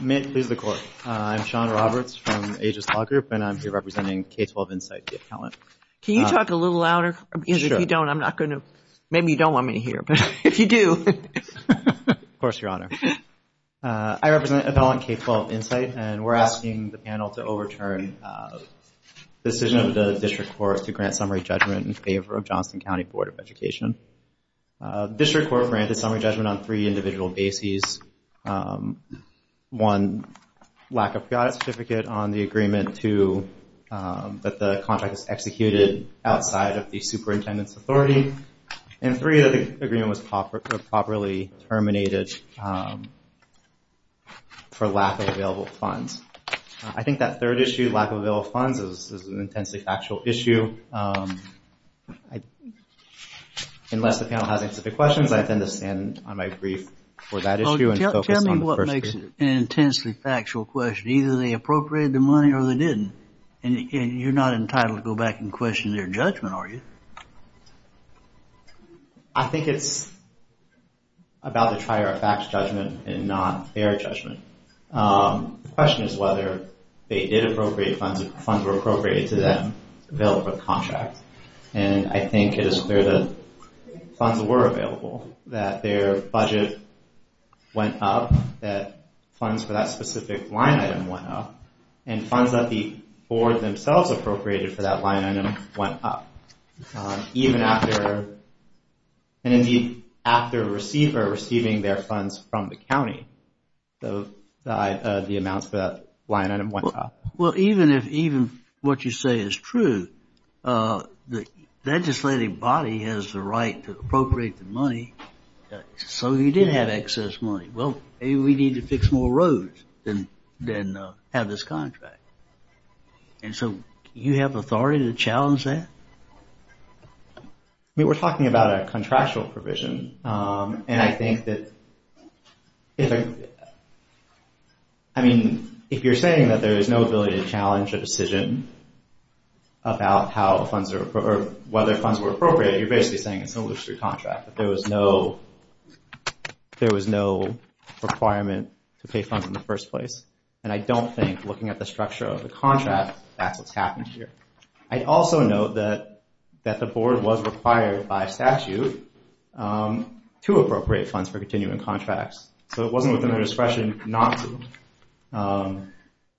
May it please the Court, I'm Sean Roberts from Aegis Law Group and I'm here representing K-12 Insight, the appellant. Can you talk a little louder? Sure. Because if you don't, I'm not going to, maybe you don't want me to hear, but if you do. Of course, Your Honor. I represent Appellant K-12 Insight and we're asking the panel to overturn the decision of the District Court to grant summary judgment in favor of Johnston County Board of Education. District Court granted summary judgment on three individual bases. One, lack of pre-audit certificate on the agreement. Two, that the contract is executed outside of the superintendent's authority. And three, that the agreement was properly terminated for lack of available funds. I think that third issue, lack of available funds, is an intensely factual issue. Unless the panel has specific questions, I tend to stand on my brief for that issue and focus on the first issue. Tell me what makes it an intensely factual question. Either they appropriated the money or they didn't. And you're not entitled to go back and question their judgment, are you? I think it's about the trier of facts judgment and not fair judgment. The question is whether they did appropriate funds. If funds were appropriated to them, available contract. And I think it is clear that funds were available. That their budget went up. That funds for that specific line item went up. And funds that the board themselves appropriated for that line item went up. Even after a receiver receiving their funds from the county, the amounts for that line item went up. Well, even if what you say is true, the legislative body has the right to appropriate the money. So you did have excess money. Well, maybe we need to fix more roads than have this contract. And so you have authority to challenge that? We were talking about a contractual provision. And I think that if you're saying that there is no ability to challenge a decision about whether funds were appropriated, you're basically saying it's an illustrious contract. There was no requirement to pay funds in the first place. And I don't think, looking at the structure of the contract, that's what's happened here. I'd also note that the board was required by statute to appropriate funds for continuing contracts. So it wasn't within their discretion not to.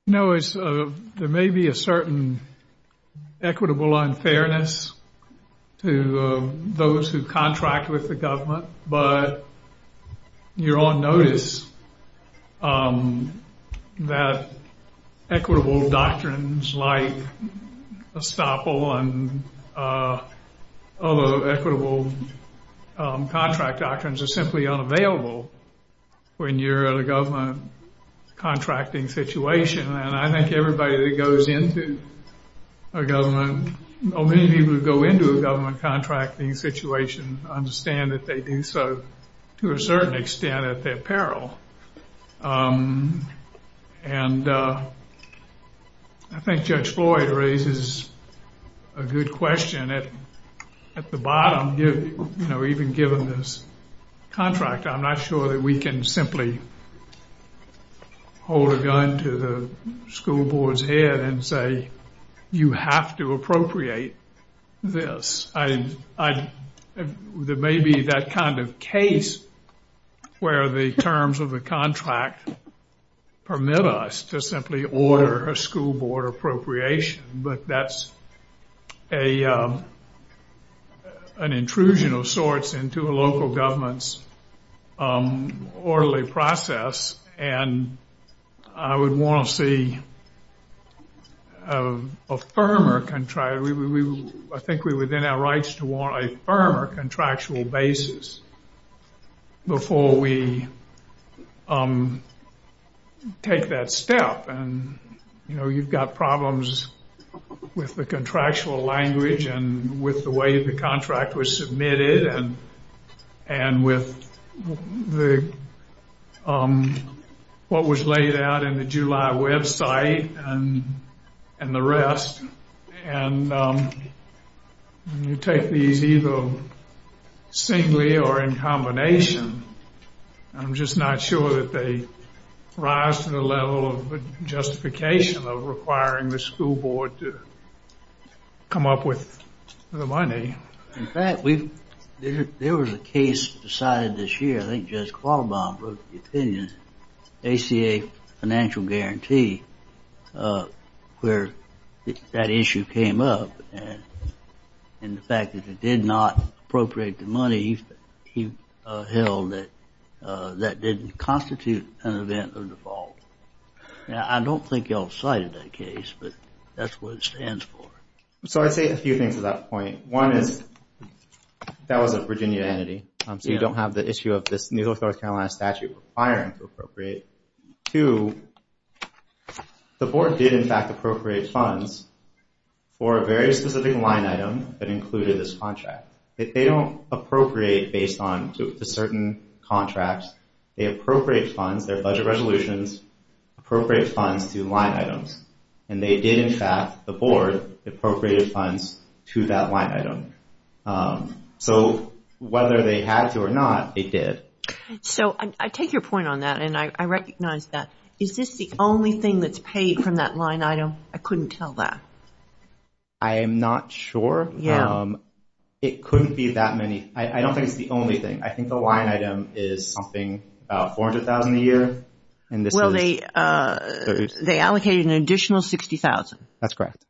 No, there may be a certain equitable unfairness to those who contract with the government. But you're on notice that equitable doctrines like estoppel and other equitable contract doctrines are simply unavailable when you're in a government contracting situation. And I think everybody that goes into a government, or many people who go into a government contracting situation, understand that they do so to a certain extent at their peril. And I think Judge Floyd raises a good question. At the bottom, even given this contract, I'm not sure that we can simply hold a gun to the school board's head and say, you have to appropriate this. There may be that kind of case where the terms of the contract permit us to simply order a school board appropriation. But that's an intrusion of sorts into a local government's orderly process. And I would want to see a firmer contract. I think we're within our rights to want a firmer contractual basis before we take that step. And you've got problems with the contractual language and with the way the contract was submitted and with what was laid out in the July website and the rest. And when you take these either singly or in combination, I'm just not sure that they rise to the level of justification of requiring the school board to come up with the money. In fact, there was a case decided this year, I think Judge Qualbom wrote the opinion, ACA financial guarantee where that issue came up. And the fact that it did not appropriate the money, he held that that didn't constitute an event of default. Now, I don't think you all cited that case, but that's what it stands for. So I'd say a few things to that point. One is that was a Virginia entity. So you don't have the issue of this North Carolina statute requiring to appropriate. Two, the board did in fact appropriate funds for a very specific line item that included this contract. They don't appropriate based on certain contracts. They appropriate funds, their budget resolutions, appropriate funds to line items. And they did in fact, the board, appropriate funds to that line item. So whether they had to or not, they did. So I take your point on that and I recognize that. Is this the only thing that's paid from that line item? I couldn't tell that. I am not sure. It couldn't be that many. I don't think it's the only thing. I think the line item is something about $400,000 a year. Well, they allocated an additional $60,000. That's correct.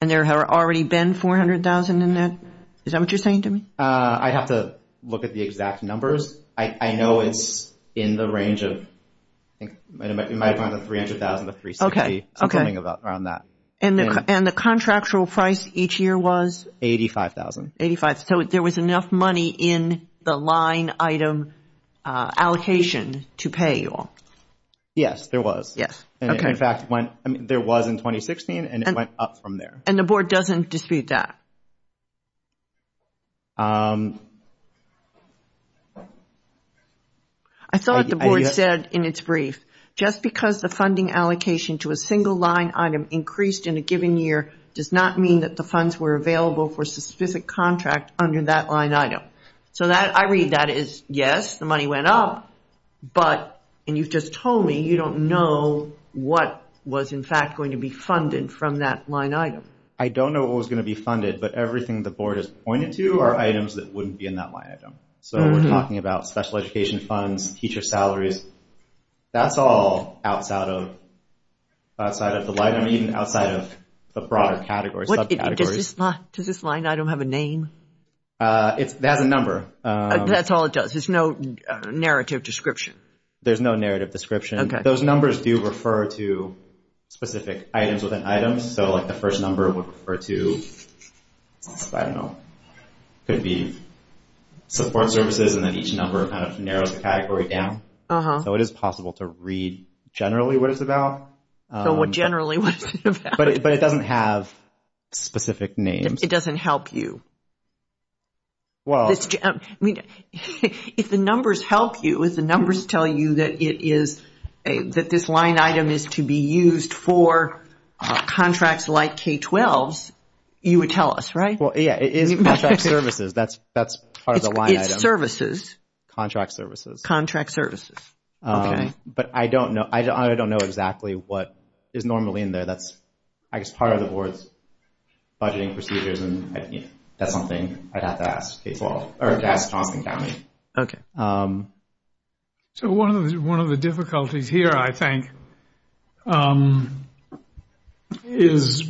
And there have already been $400,000 in that? Is that what you're saying to me? I'd have to look at the exact numbers. I know it's in the range of, in my opinion, $300,000 to $360,000. Okay. Something around that. And the contractual price each year was? $85,000. $85,000. So there was enough money in the line item allocation to pay you all. Yes, there was. Yes. There was in 2016 and it went up from there. And the board doesn't dispute that? I thought the board said in its brief, just because the funding allocation to a single line item increased in a given year does not mean that the funds were available for a specific contract under that line item. So I read that as yes, the money went up, but, and you've just told me, you don't know what was in fact going to be funded from that line item. I don't know what was going to be funded, but everything the board has pointed to are items that wouldn't be in that line item. So we're talking about special education funds, teacher salaries. That's all outside of the line item, even outside of the broader categories, subcategories. Does this line item have a name? It has a number. That's all it does. There's no narrative description. There's no narrative description. Those numbers do refer to specific items within items. So like the first number would refer to, I don't know, could be support services and then each number kind of narrows the category down. So it is possible to read generally what it's about. So generally what is it about? But it doesn't have specific names. It doesn't help you. If the numbers help you, if the numbers tell you that this line item is to be used for contracts like K-12s, you would tell us, right? Yeah, it is contract services. That's part of the line item. It's services. Contract services. Contract services. Okay. But I don't know. I don't know exactly what is normally in there. That's, I guess, part of the board's budgeting procedures. That's something I'd have to ask K-12 or to ask Johnson County. Okay. So one of the difficulties here, I think, is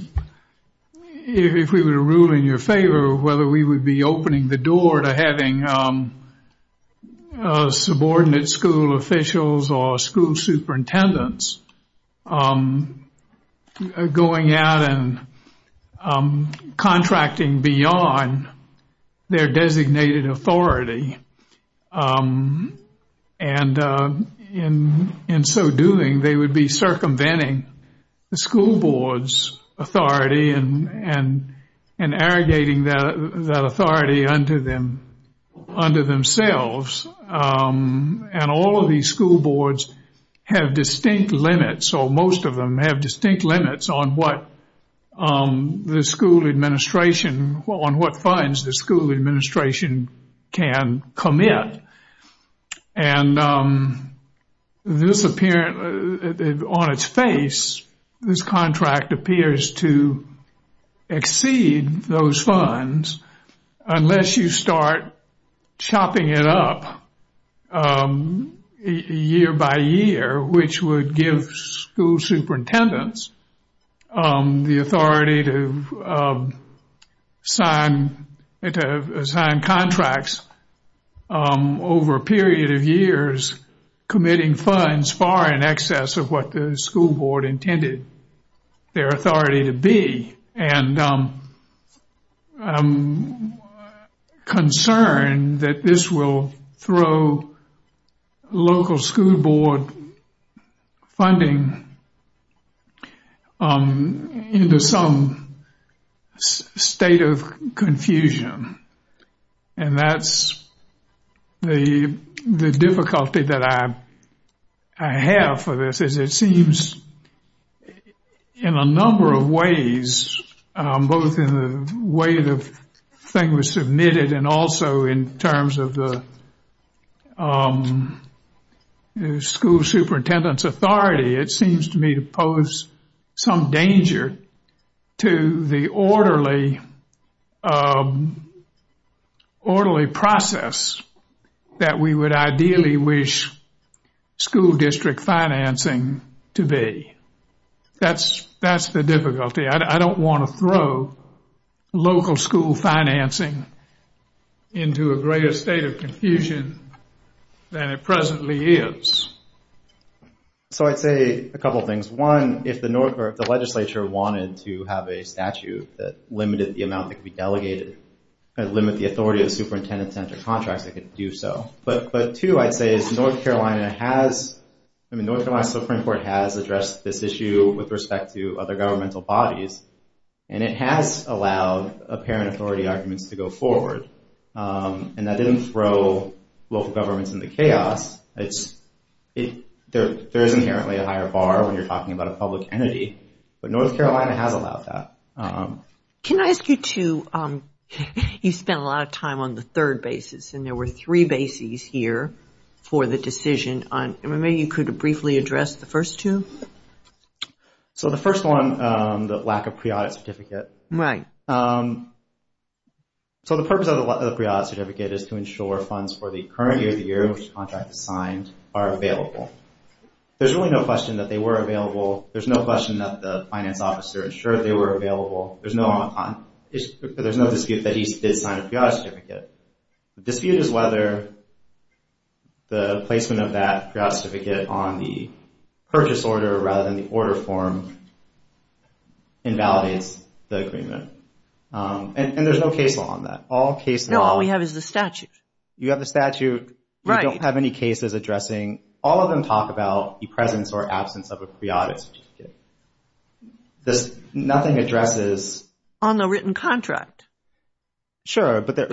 if we were to rule in your favor whether we would be opening the door to having subordinate school officials or school superintendents going out and contracting beyond their designated authority. And in so doing, they would be circumventing the school board's authority and arrogating that authority unto themselves. And all of these school boards have distinct limits, or most of them have distinct limits on what the school administration, on what funds the school administration can commit. And on its face, this contract appears to exceed those funds unless you start chopping it up year by year, which would give school superintendents the authority to sign contracts over a period of years, committing funds far in excess of what the school board intended their that this will throw local school board funding into some state of confusion. And that's the difficulty that I have for this is it seems in a number of ways, both in the way the thing was submitted and also in terms of the school superintendent's authority, it seems to me to pose some danger to the orderly process that we would ideally wish school district financing to be. That's the difficulty. I don't want to throw local school financing into a greater state of confusion than it presently is. So I'd say a couple things. One, if the legislature wanted to have a statute that limited the amount that could be delegated and limit the authority of superintendent-centered contracts, they could do so. And it has allowed apparent authority arguments to go forward. And that didn't throw local governments into chaos. There is inherently a higher bar when you're talking about a public entity, but North Carolina has allowed that. Can I ask you two, you spent a lot of time on the third basis, and there were three bases here for the decision. Maybe you could briefly address the first two? So the first one, the lack of pre-audit certificate. Right. So the purpose of the pre-audit certificate is to ensure funds for the current year of the year in which the contract is signed are available. There's really no question that they were available. There's no question that the finance officer ensured they were available. There's no dispute that he did sign a pre-audit certificate. The dispute is whether the placement of that pre-audit certificate on the purchase order rather than the order form invalidates the agreement. And there's no case law on that. No, all we have is the statute. You have the statute. Right. You don't have any cases addressing. All of them talk about the presence or absence of a pre-audit certificate. Nothing addresses. On the written contract. Sure, but they're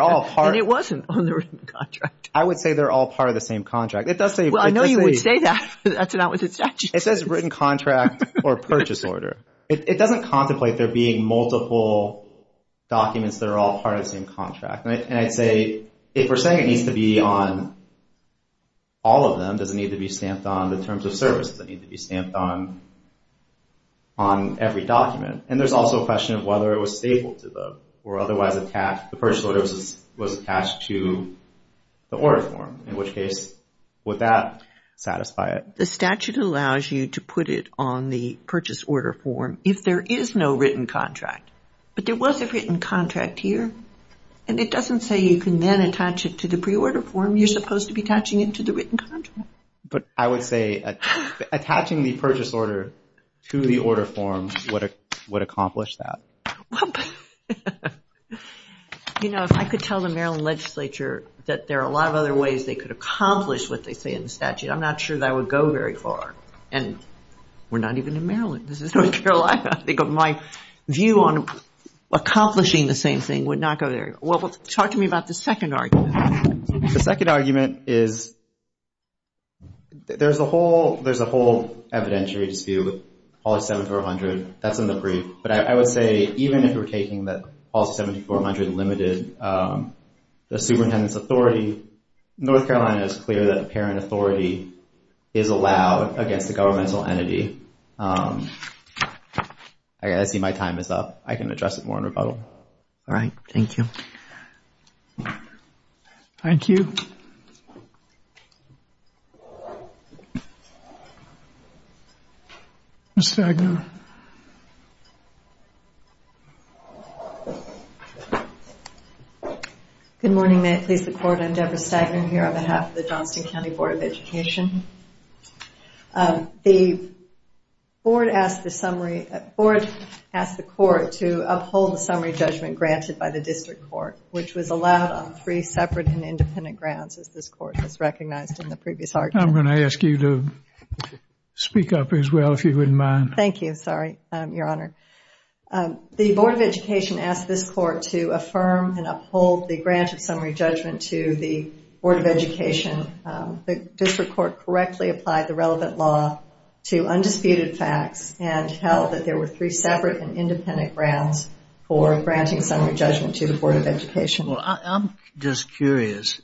all part. And it wasn't on the written contract. I would say they're all part of the same contract. Well, I know you would say that, but that's not what the statute says. It says written contract or purchase order. It doesn't contemplate there being multiple documents that are all part of the same contract. And I'd say if we're saying it needs to be on all of them, does it need to be stamped on the terms of service? Does it need to be stamped on every document? And there's also a question of whether it was stapled to them or otherwise the purchase order was attached to the order form, in which case would that satisfy it? The statute allows you to put it on the purchase order form if there is no written contract. But there was a written contract here, and it doesn't say you can then attach it to the pre-order form. You're supposed to be attaching it to the written contract. But I would say attaching the purchase order to the order form would accomplish that. You know, if I could tell the Maryland legislature that there are a lot of other ways they could accomplish what they say in the statute, I'm not sure that would go very far. And we're not even in Maryland. This is North Carolina. My view on accomplishing the same thing would not go there. Well, talk to me about the second argument. The second argument is there's a whole evidentiary dispute with policy 7400. That's in the brief. But I would say even if we're taking the policy 7400 limited, the superintendent's authority, North Carolina is clear that the parent authority is allowed against the governmental entity. I see my time is up. I can address it more in rebuttal. All right. Thank you. Thank you. Ms. Stagner. Good morning. May it please the Court. I'm Deborah Stagner here on behalf of the Johnston County Board of Education. The Board asked the Court to uphold the summary judgment granted by the District Court, which was allowed on three separate and independent grounds, as this Court has recognized in the previous argument. I'm going to ask you to speak up as well, if you wouldn't mind. Thank you. Sorry, Your Honor. The Board of Education asked this Court to affirm and uphold the grant of summary judgment to the Board of Education. The District Court correctly applied the relevant law to undisputed facts and held that there were three separate and independent grounds for granting summary judgment to the Board of Education. Well, I'm just curious.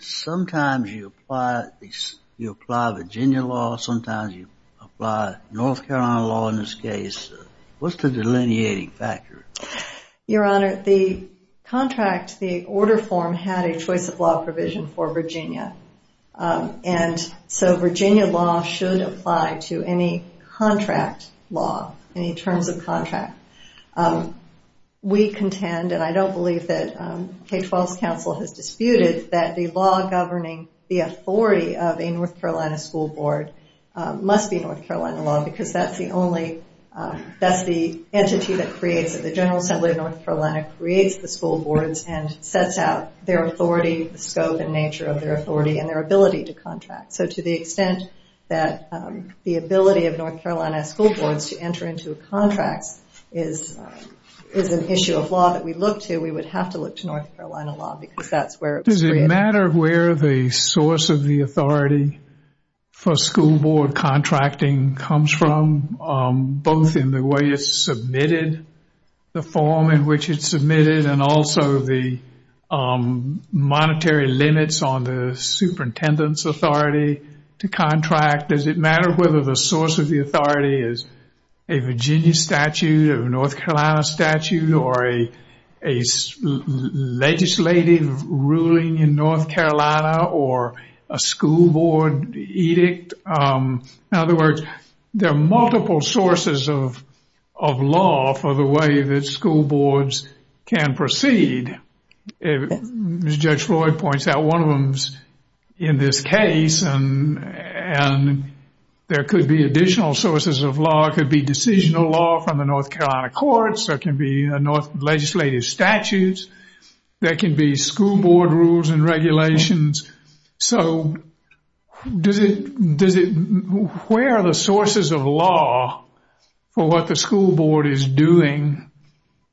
Sometimes you apply Virginia law. Sometimes you apply North Carolina law in this case. What's the delineating factor? Your Honor, the contract, the order form, had a choice of law provision for Virginia. And so Virginia law should apply to any contract law, any terms of contract. We contend, and I don't believe that K-12's counsel has disputed, that the law governing the authority of a North Carolina school board must be North Carolina law because that's the only, that's the entity that creates it. The General Assembly of North Carolina creates the school boards and sets out their authority, the scope and nature of their authority, and their ability to contract. So to the extent that the ability of North Carolina school boards to enter into contracts is an issue of law that we look to, we would have to look to North Carolina law because that's where it was created. Does it matter where the source of the authority for school board contracting comes from, both in the way it's submitted, the form in which it's submitted, and also the monetary limits on the superintendent's authority to contract? Does it matter whether the source of the authority is a Virginia statute or a North Carolina statute or a legislative ruling in North Carolina or a school board edict? In other words, there are multiple sources of law for the way that school boards can proceed. As Judge Floyd points out, one of them is in this case, and there could be additional sources of law. It could be decisional law from the North Carolina courts. There can be legislative statutes. There can be school board rules and regulations. So where are the sources of law for what the school board is doing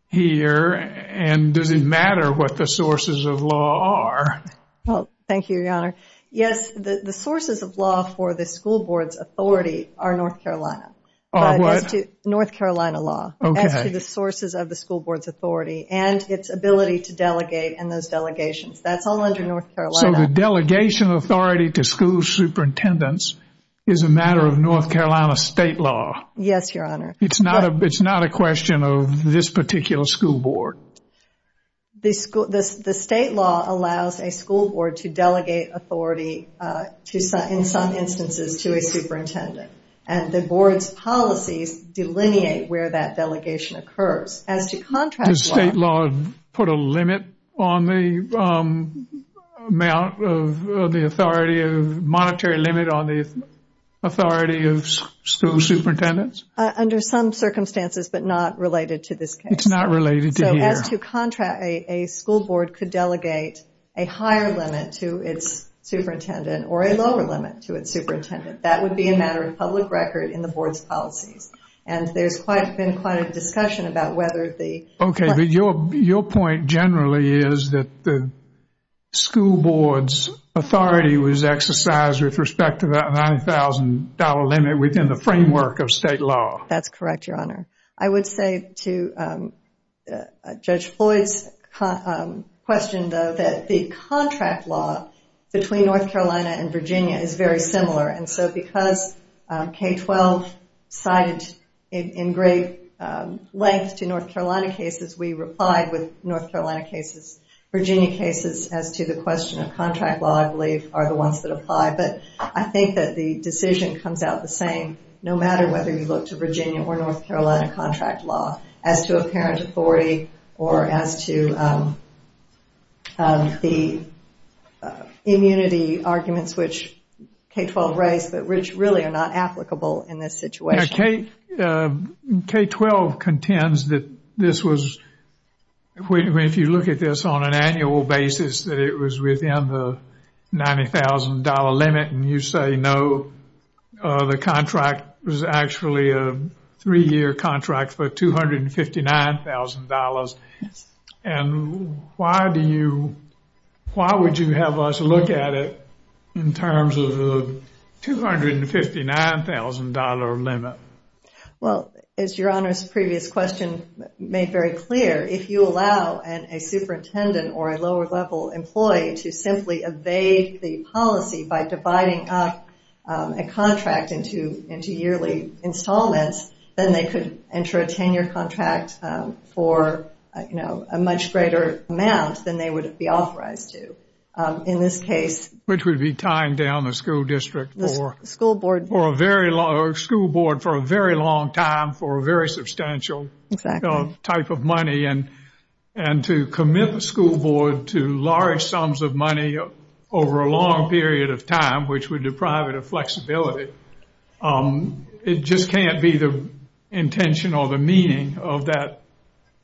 here, and does it matter what the sources of law are? Well, thank you, Your Honor. Yes, the sources of law for the school board's authority are North Carolina. Are what? North Carolina law. Okay. As to the sources of the school board's authority and its ability to delegate in those delegations. That's all under North Carolina. So the delegation authority to school superintendents is a matter of North Carolina state law. Yes, Your Honor. It's not a question of this particular school board. The state law allows a school board to delegate authority in some instances to a superintendent, and the board's policies delineate where that delegation occurs. Does state law put a limit on the amount of the authority, a monetary limit on the authority of school superintendents? Under some circumstances, but not related to this case. It's not related to here. So as to contract, a school board could delegate a higher limit to its superintendent or a lower limit to its superintendent. That would be a matter of public record in the board's policies. And there's been quite a discussion about whether the- Okay. But your point generally is that the school board's authority was exercised with respect to that $90,000 limit within the framework of state law. That's correct, Your Honor. I would say to Judge Floyd's question, though, that the contract law between North Carolina and Virginia is very similar. And so because K-12 cited in great length to North Carolina cases, we replied with North Carolina cases. Virginia cases as to the question of contract law, I believe, are the ones that apply. But I think that the decision comes out the same no matter whether you look to Virginia or North Carolina contract law as to apparent authority or as to the immunity arguments which K-12 raised, which really are not applicable in this situation. K-12 contends that this was, if you look at this on an annual basis, that it was within the $90,000 limit. And you say, no, the contract was actually a three-year contract for $259,000. And why would you have us look at it in terms of the $259,000 limit? Well, as Your Honor's previous question made very clear, if you allow a superintendent or a lower-level employee to simply evade the policy by dividing up a contract into yearly installments, then they could enter a tenure contract for a much greater amount than they would be authorized to in this case. Which would be tying down the school district for a very long time for a very substantial type of money. And to commit the school board to large sums of money over a long period of time, which would deprive it of flexibility. It just can't be the intention or the meaning of that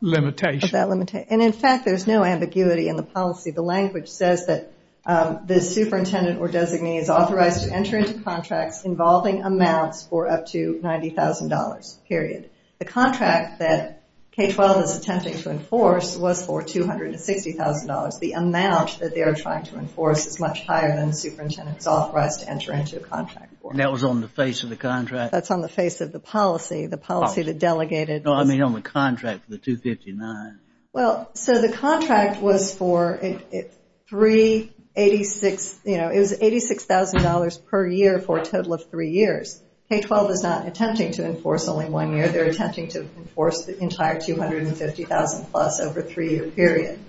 limitation. And in fact, there's no ambiguity in the policy. The language says that the superintendent or designee is authorized to enter into contracts involving amounts for up to $90,000, period. The contract that K-12 is attempting to enforce was for $260,000. The amount that they are trying to enforce is much higher than the superintendent is authorized to enter into a contract for. And that was on the face of the contract? That's on the face of the policy, the policy that delegated. No, I mean on the contract for the $259,000. Well, so the contract was for $86,000 per year for a total of three years. K-12 is not attempting to enforce only one year. They're attempting to enforce the entire $250,000 plus over a three-year period.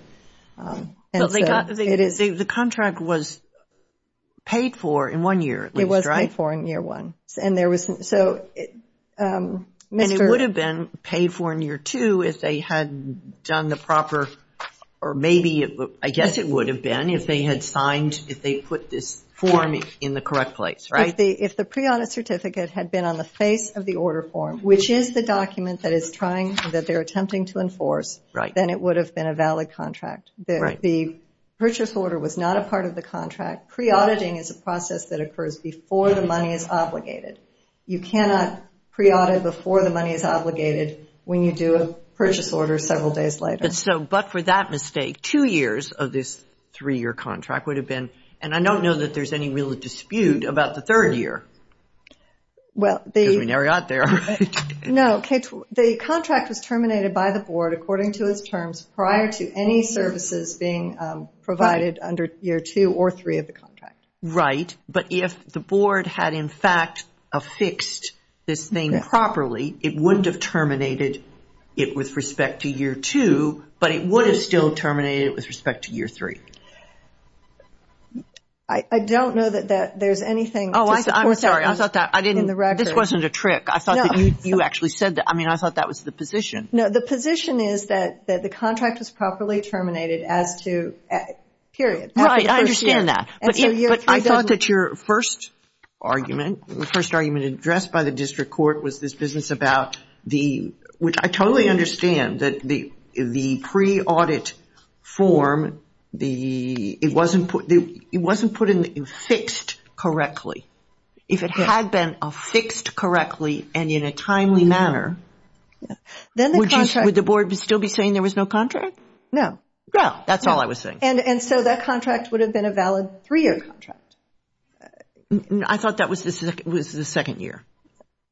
So the contract was paid for in one year at least, right? It was paid for in year one. And it would have been paid for in year two if they had done the proper, or maybe I guess it would have been if they had signed, if they put this form in the correct place, right? If the pre-audit certificate had been on the face of the order form, which is the document that they're attempting to enforce, then it would have been a valid contract. The purchase order was not a part of the contract. Pre-auditing is a process that occurs before the money is obligated. You cannot pre-audit before the money is obligated when you do a purchase order several days later. But for that mistake, two years of this three-year contract would have been, and I don't know that there's any real dispute about the third year. Because we never got there, right? No. The contract was terminated by the board according to its terms prior to any services being provided under year two or three of the contract. Right. But if the board had in fact affixed this thing properly, it wouldn't have terminated it with respect to year two, but it would have still terminated it with respect to year three. I don't know that there's anything to support that in the record. Oh, I'm sorry. This wasn't a trick. I thought that you actually said that. I mean, I thought that was the position. No, the position is that the contract was properly terminated as to period. Right. I understand that. But I thought that your first argument, the first argument addressed by the district court was this business about the, which I totally understand that the pre-audit form, it wasn't put in fixed correctly. If it had been affixed correctly and in a timely manner, would the board still be saying there was no contract? No. No, that's all I was saying. And so that contract would have been a valid three-year contract. I thought that was the second year.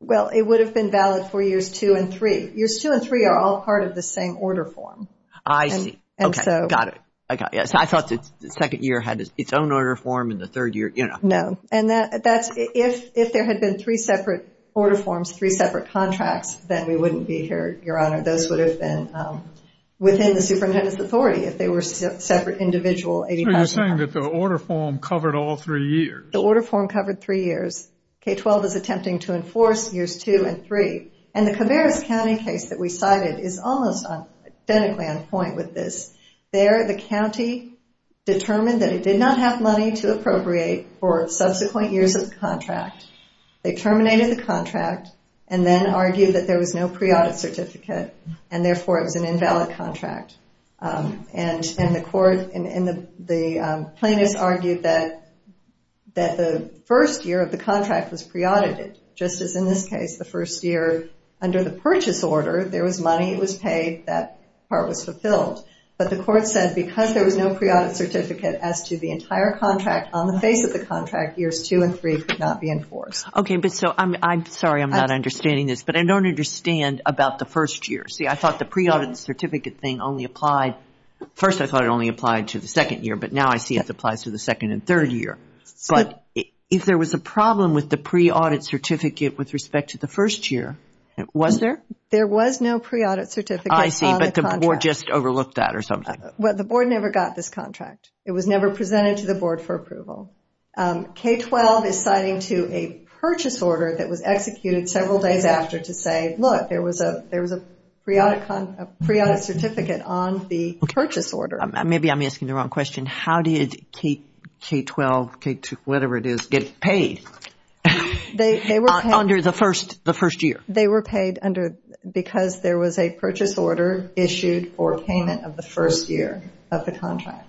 Well, it would have been valid for years two and three. Years two and three are all part of the same order form. I see. Okay. Got it. I thought the second year had its own order form and the third year, you know. No. And that's if there had been three separate order forms, three separate contracts, then we wouldn't be here, Your Honor. Those would have been within the superintendent's authority if they were separate individual 85-year contracts. So you're saying that the order form covered all three years. The order form covered three years. K-12 is attempting to enforce years two and three. And the Cabarrus County case that we cited is almost identically on point with this. There, the county determined that it did not have money to appropriate for subsequent years of the contract. They terminated the contract and then argued that there was no pre-audit certificate and, therefore, it was an invalid contract. And the court and the plaintiffs argued that the first year of the contract was pre-audited. Just as in this case, the first year under the purchase order, there was money, it was paid, that part was fulfilled. But the court said because there was no pre-audit certificate as to the entire contract on the face of the contract, years two and three could not be enforced. Okay, but so I'm sorry I'm not understanding this, but I don't understand about the first year. See, I thought the pre-audit certificate thing only applied, first I thought it only applied to the second year, but now I see it applies to the second and third year. But if there was a problem with the pre-audit certificate with respect to the first year, was there? There was no pre-audit certificate on the contract. I see, but the board just overlooked that or something. Well, the board never got this contract. It was never presented to the board for approval. K-12 is citing to a purchase order that was executed several days after to say, look, there was a pre-audit certificate on the purchase order. Maybe I'm asking the wrong question. How did K-12, whatever it is, get paid under the first year? They were paid because there was a purchase order issued for payment of the first year of the contract.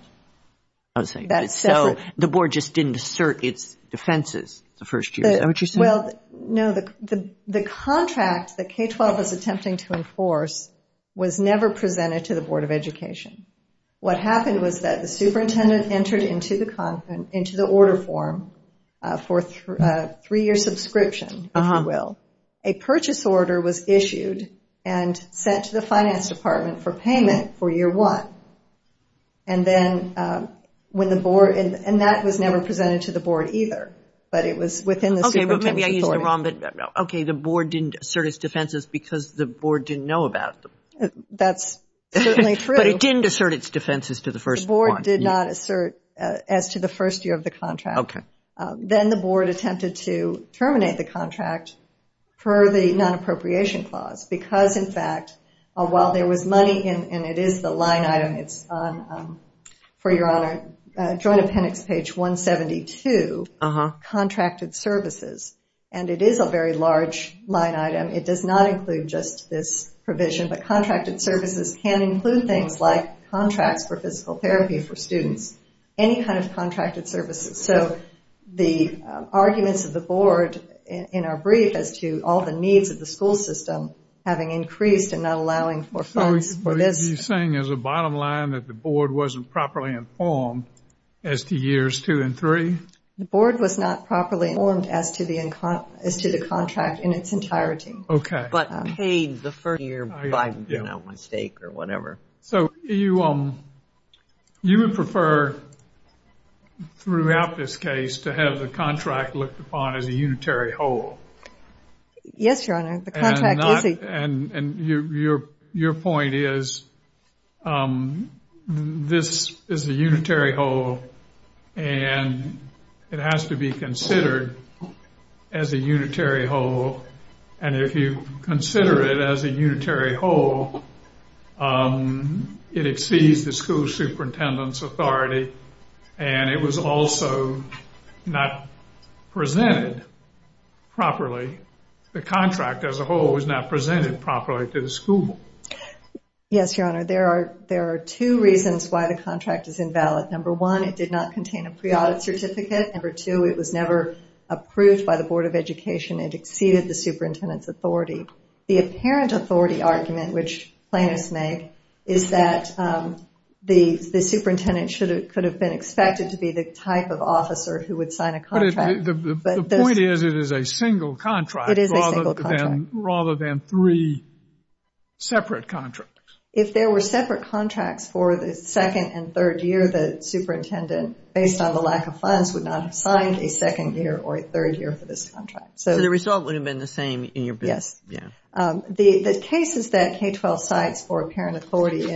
So the board just didn't assert its defenses the first year. Is that what you're saying? Well, no, the contract that K-12 was attempting to enforce was never presented to the Board of Education. What happened was that the superintendent entered into the order form for a three-year subscription, if you will. A purchase order was issued and sent to the finance department for payment for year one, and that was never presented to the board either, but it was within the superintendent's authority. Okay, but maybe I used it wrong. Okay, the board didn't assert its defenses because the board didn't know about them. That's certainly true. But it didn't assert its defenses to the first one. The board did not assert as to the first year of the contract. Okay. Then the board attempted to terminate the contract for the non-appropriation clause because, in fact, while there was money and it is the line item, for your honor, joint appendix page 172, contracted services, and it is a very large line item. It does not include just this provision, but contracted services can include things like contracts for physical therapy for students, any kind of contracted services. So the arguments of the board in our brief as to all the needs of the school system having increased and not allowing for funds for this. Are you saying there's a bottom line that the board wasn't properly informed as to years two and three? The board was not properly informed as to the contract in its entirety. Okay. But paid the first year by mistake or whatever. So you would prefer throughout this case to have the contract looked upon as a unitary whole? Yes, your honor. And your point is this is a unitary whole, and it has to be considered as a unitary whole. And if you consider it as a unitary whole, it exceeds the school superintendent's authority. And it was also not presented properly. The contract as a whole was not presented properly to the school. Yes, your honor. There are two reasons why the contract is invalid. Number one, it did not contain a pre-audit certificate. Number two, it was never approved by the Board of Education. It exceeded the superintendent's authority. The apparent authority argument, which plaintiffs make, is that the superintendent could have been expected to be the type of officer who would sign a contract. But the point is it is a single contract rather than three separate contracts. If there were separate contracts for the second and third year, the superintendent, based on the lack of funds, would not have signed a second year or a third year for this contract. So the result would have been the same in your book. Yes. The cases that K-12 cites for apparent authority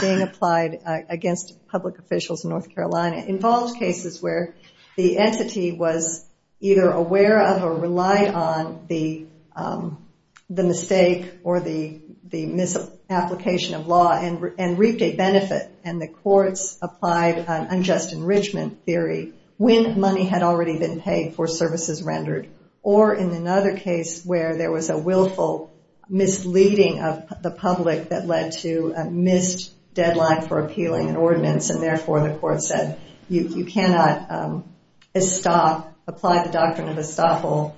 being applied against public officials in North Carolina involves cases where the entity was either aware of or relied on the mistake or the misapplication of law and reaped a benefit. And the courts applied an unjust enrichment theory when money had already been paid for services rendered or in another case where there was a willful misleading of the public that led to a missed deadline for appealing an ordinance and therefore the court said you cannot apply the doctrine of estoppel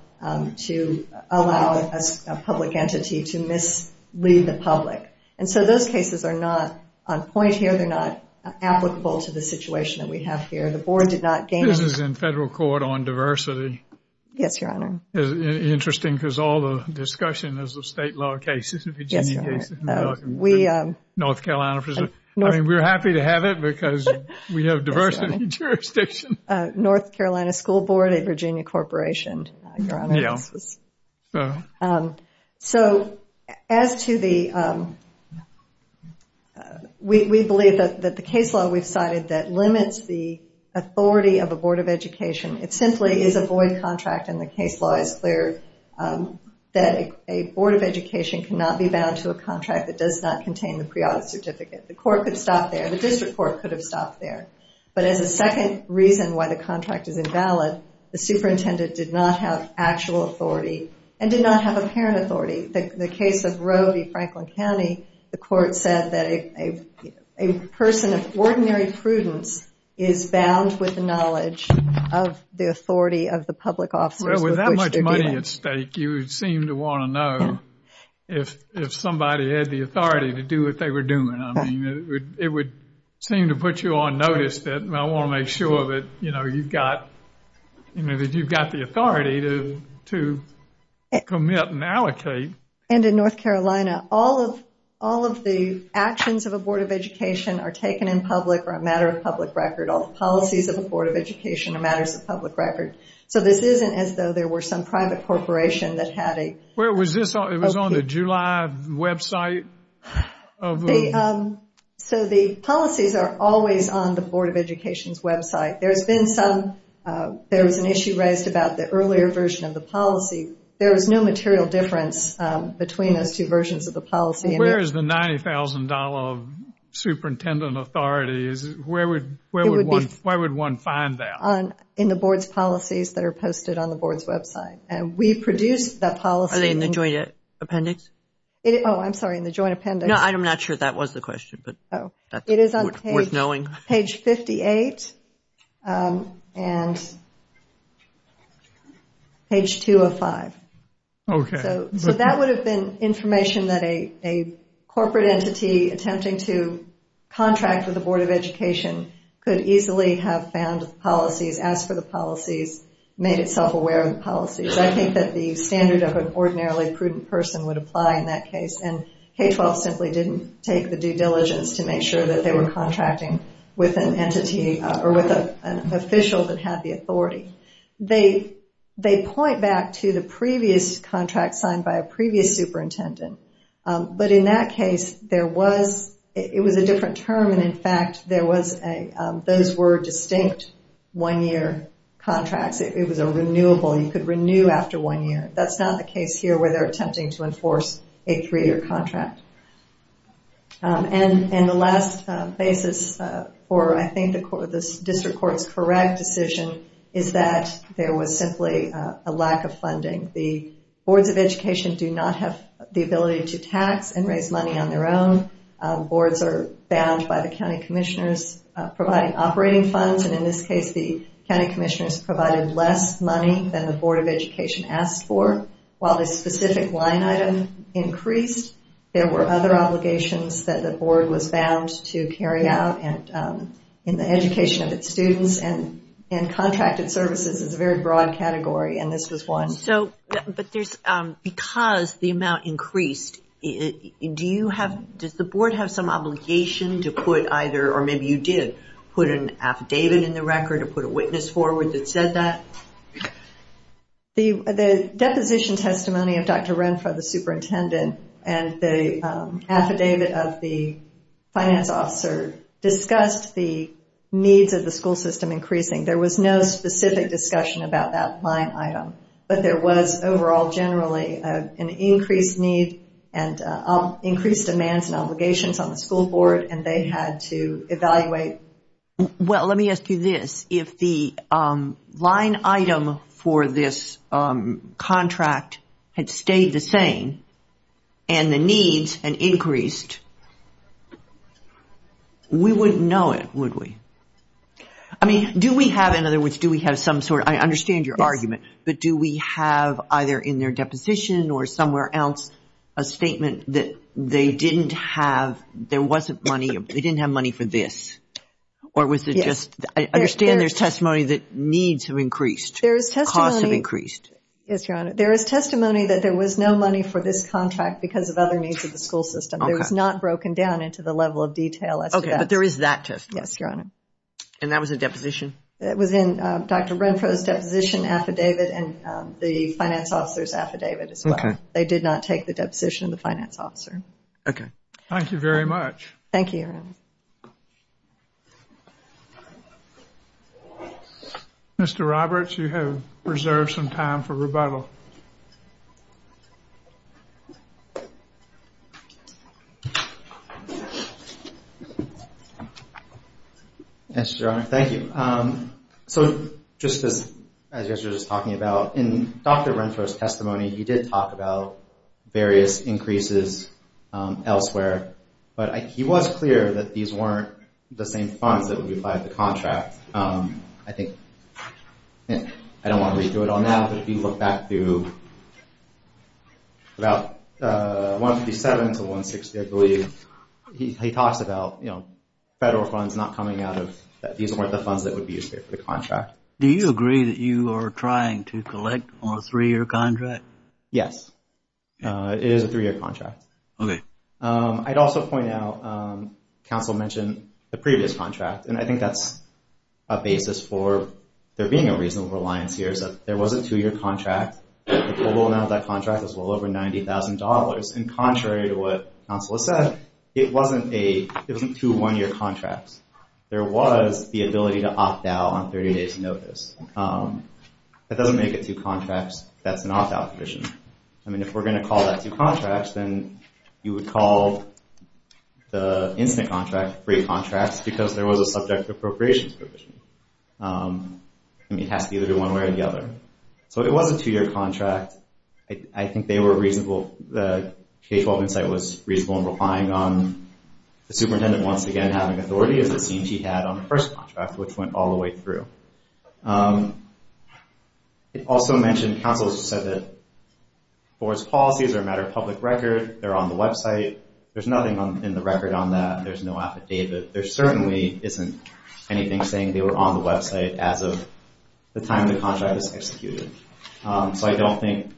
to allow a public entity to mislead the public. And so those cases are not on point here. They're not applicable to the situation that we have here. The board did not gain... This is in federal court on diversity. Yes, Your Honor. It's interesting because all the discussion is of state law cases. Yes, Your Honor. We... North Carolina... I mean, we're happy to have it because we have diversity jurisdiction. North Carolina School Board at Virginia Corporation, Your Honor. Yeah. So as to the... We believe that the case law we've cited that limits the authority of a board of education, it simply is a void contract and the case law is clear that a board of education cannot be bound to a contract that does not contain the preaudit certificate. The court could stop there. The district court could have stopped there. But as a second reason why the contract is invalid, the superintendent did not have actual authority and did not have apparent authority. The case of Rode, Franklin County, the court said that a person of ordinary prudence is bound with knowledge of the authority of the public officers with which they're dealing. Well, with that much money at stake, you would seem to want to know if somebody had the authority to do what they were doing. I mean, it would seem to put you on notice that, well, I want to make sure that, you know, you've got, you know, that you've got the authority to commit and allocate. And in North Carolina, all of the actions of a board of education are taken in public or a matter of public record. All the policies of a board of education are matters of public record. So this isn't as though there were some private corporation that had a... It was on the July website? So the policies are always on the board of education's website. There's been some, there was an issue raised about the earlier version of the policy. There was no material difference between those two versions of the policy. Where is the $90,000 of superintendent authority? Where would one find that? In the board's policies that are posted on the board's website. And we produced that policy. Are they in the joint appendix? Oh, I'm sorry, in the joint appendix. No, I'm not sure that was the question, but that's worth knowing. Page 58 and page 205. Okay. So that would have been information that a corporate entity attempting to contract with the board of education could easily have found policies, asked for the policies, made itself aware of the policies. I think that the standard of an ordinarily prudent person would apply in that case. And K-12 simply didn't take the due diligence to make sure that they were contracting with an entity or with an official that had the authority. They point back to the previous contract signed by a previous superintendent. But in that case, it was a different term. And, in fact, those were distinct one-year contracts. It was a renewable. You could renew after one year. That's not the case here where they're attempting to enforce a three-year contract. And the last basis for, I think, the district court's correct decision is that there was simply a lack of funding. The boards of education do not have the ability to tax and raise money on their own. Boards are bound by the county commissioners providing operating funds. And in this case, the county commissioners provided less money than the board of education asked for. While the specific line item increased, there were other obligations that the board was bound to carry out in the education of its students. And contracted services is a very broad category, and this was one. But because the amount increased, does the board have some obligation to put either, or maybe you did, put an affidavit in the record or put a witness forward that said that? The deposition testimony of Dr. Renfrow, the superintendent, and the affidavit of the finance officer discussed the needs of the school system increasing. There was no specific discussion about that line item, but there was overall generally an increased need and increased demands and obligations on the school board, and they had to evaluate. Well, let me ask you this. If the line item for this contract had stayed the same and the needs had increased, we wouldn't know it, would we? I mean, do we have, in other words, do we have some sort of, I understand your argument, but do we have either in their deposition or somewhere else a statement that they didn't have, there wasn't money, they didn't have money for this, or was it just, I understand there's testimony that needs have increased, costs have increased. Yes, Your Honor. There is testimony that there was no money for this contract because of other needs of the school system. It was not broken down into the level of detail as to that. Okay, but there is that testimony. Yes, Your Honor. And that was a deposition? It was in Dr. Renfro's deposition affidavit and the finance officer's affidavit as well. Okay. They did not take the deposition of the finance officer. Okay. Thank you very much. Thank you, Your Honor. Mr. Roberts, you have reserved some time for rebuttal. Yes, Your Honor. Thank you. So, just as you guys were just talking about, in Dr. Renfro's testimony, he did talk about various increases elsewhere, but he was clear that these weren't the same funds that would be applied to the contract. I think, I don't want to redo it all now, but if you look back to about 157 to 160, I believe, he talks about, you know, federal funds not coming out of, that these weren't the funds that would be used here for the contract. Do you agree that you are trying to collect on a three-year contract? Yes, it is a three-year contract. Okay. I'd also point out, counsel mentioned the previous contract, and I think that's a basis for there being a reasonable reliance here, is that there was a two-year contract. The total amount of that contract was well over $90,000. And contrary to what counsel has said, it wasn't two one-year contracts. There was the ability to opt out on 30 days' notice. That doesn't make it two contracts. That's an opt-out provision. I mean, if we're going to call that two contracts, then you would call the instant contract free contracts because there was a subject appropriations provision. I mean, it has to be either one way or the other. So, it was a two-year contract. I think they were reasonable. The K-12 Insight was reasonable in relying on the superintendent once again having authority, as it seems he had on the first contract, which went all the way through. It also mentioned, counsel said that, for its policies or a matter of public record, they're on the website. There's nothing in the record on that. There's no affidavit. There certainly isn't anything saying they were on the website as of the time the contract was executed. So, I don't think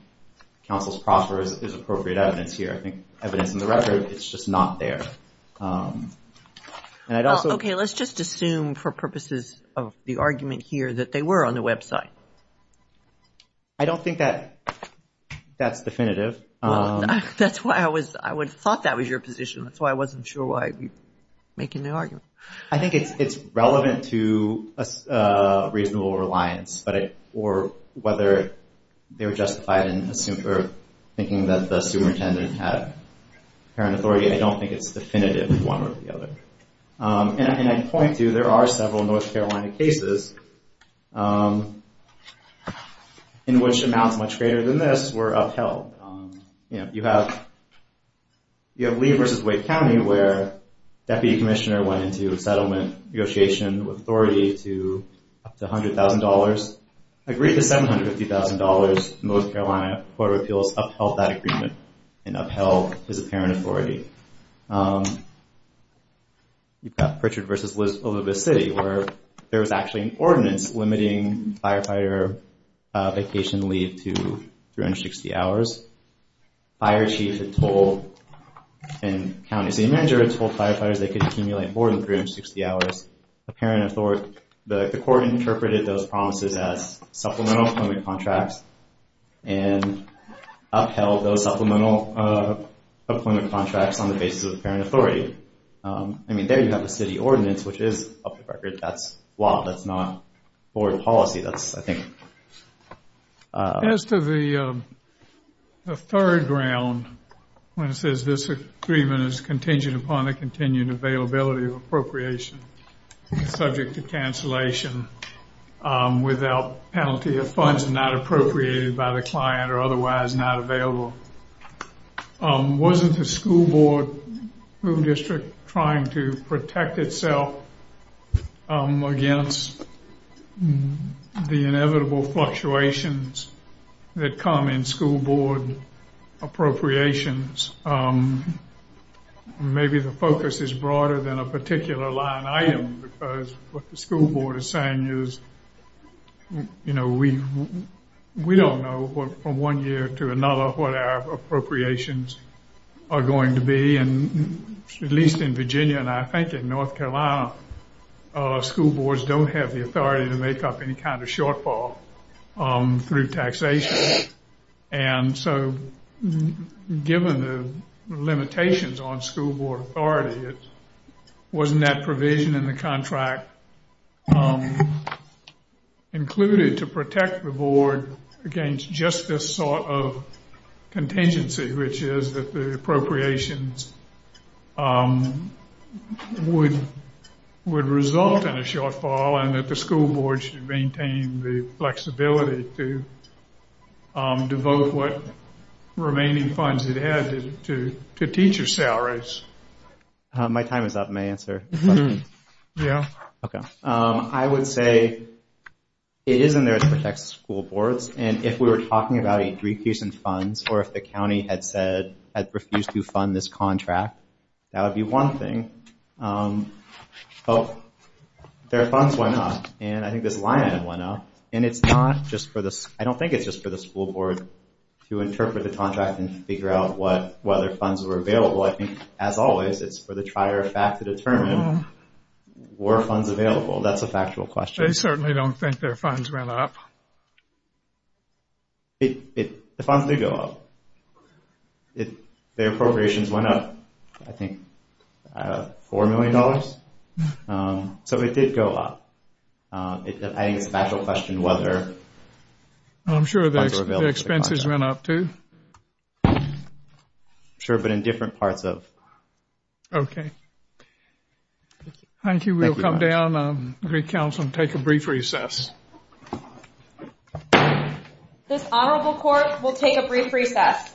counsel's proffer is appropriate evidence here. I think evidence in the record, it's just not there. Okay, let's just assume for purposes of the argument here that they were on the website. I don't think that that's definitive. That's why I thought that was your position. That's why I wasn't sure why you're making the argument. I think it's relevant to reasonable reliance or whether they're justified in thinking that the superintendent had apparent authority. I don't think it's definitive, one or the other. And I point to, there are several North Carolina cases in which amounts much greater than this were upheld. You have Lee versus Wake County, where deputy commissioner went into settlement negotiation with authority to up to $100,000, agreed to $750,000. North Carolina Court of Appeals upheld that agreement and upheld his apparent authority. You've got Pritchard versus Louisville City, where there was actually an ordinance limiting firefighter vacation leave to 360 hours. Fire chief had told, and counties, the manager had told firefighters they could accumulate more than 360 hours. The court interpreted those promises as supplemental employment contracts and upheld those supplemental employment contracts on the basis of apparent authority. I mean, there you have the city ordinance, which is up to record. That's law. That's not board policy. That's, I think... As to the third ground, when it says this agreement is contingent upon the continued availability of appropriation subject to cancellation without penalty of funds not appropriated by the client or otherwise not available, wasn't the school board district trying to protect itself against the inevitable fluctuations that come in school board appropriations? Maybe the focus is broader than a particular line item because what the school board is saying is, you know, we don't know from one year to another what our appropriations are going to be. And at least in Virginia, and I think in North Carolina, school boards don't have the authority to make up any kind of shortfall through taxation. And so given the limitations on school board authority, wasn't that provision in the contract included to protect the board against just this sort of contingency, which is that the appropriations would result in a shortfall and that the school board should maintain the flexibility to devote what remaining funds it had to teacher salaries? My time is up. May I answer the question? Yeah. Okay. I would say it is in there to protect school boards, and if we were talking about a decrease in funds or if the county had said, had refused to fund this contract, that would be one thing. Oh, their funds went up, and I think this line item went up, and I don't think it's just for the school board to interpret the contract and figure out whether funds were available. I think, as always, it's for the trier of fact to determine were funds available. That's a factual question. They certainly don't think their funds went up. The funds did go up. Their appropriations went up, I think, $4 million. So it did go up. I think it's a factual question whether funds were available. I'm sure the expenses went up, too. I'm sure, but in different parts of. Okay. Thank you. We'll come down, Council, and take a brief recess. This honorable court will take a brief recess.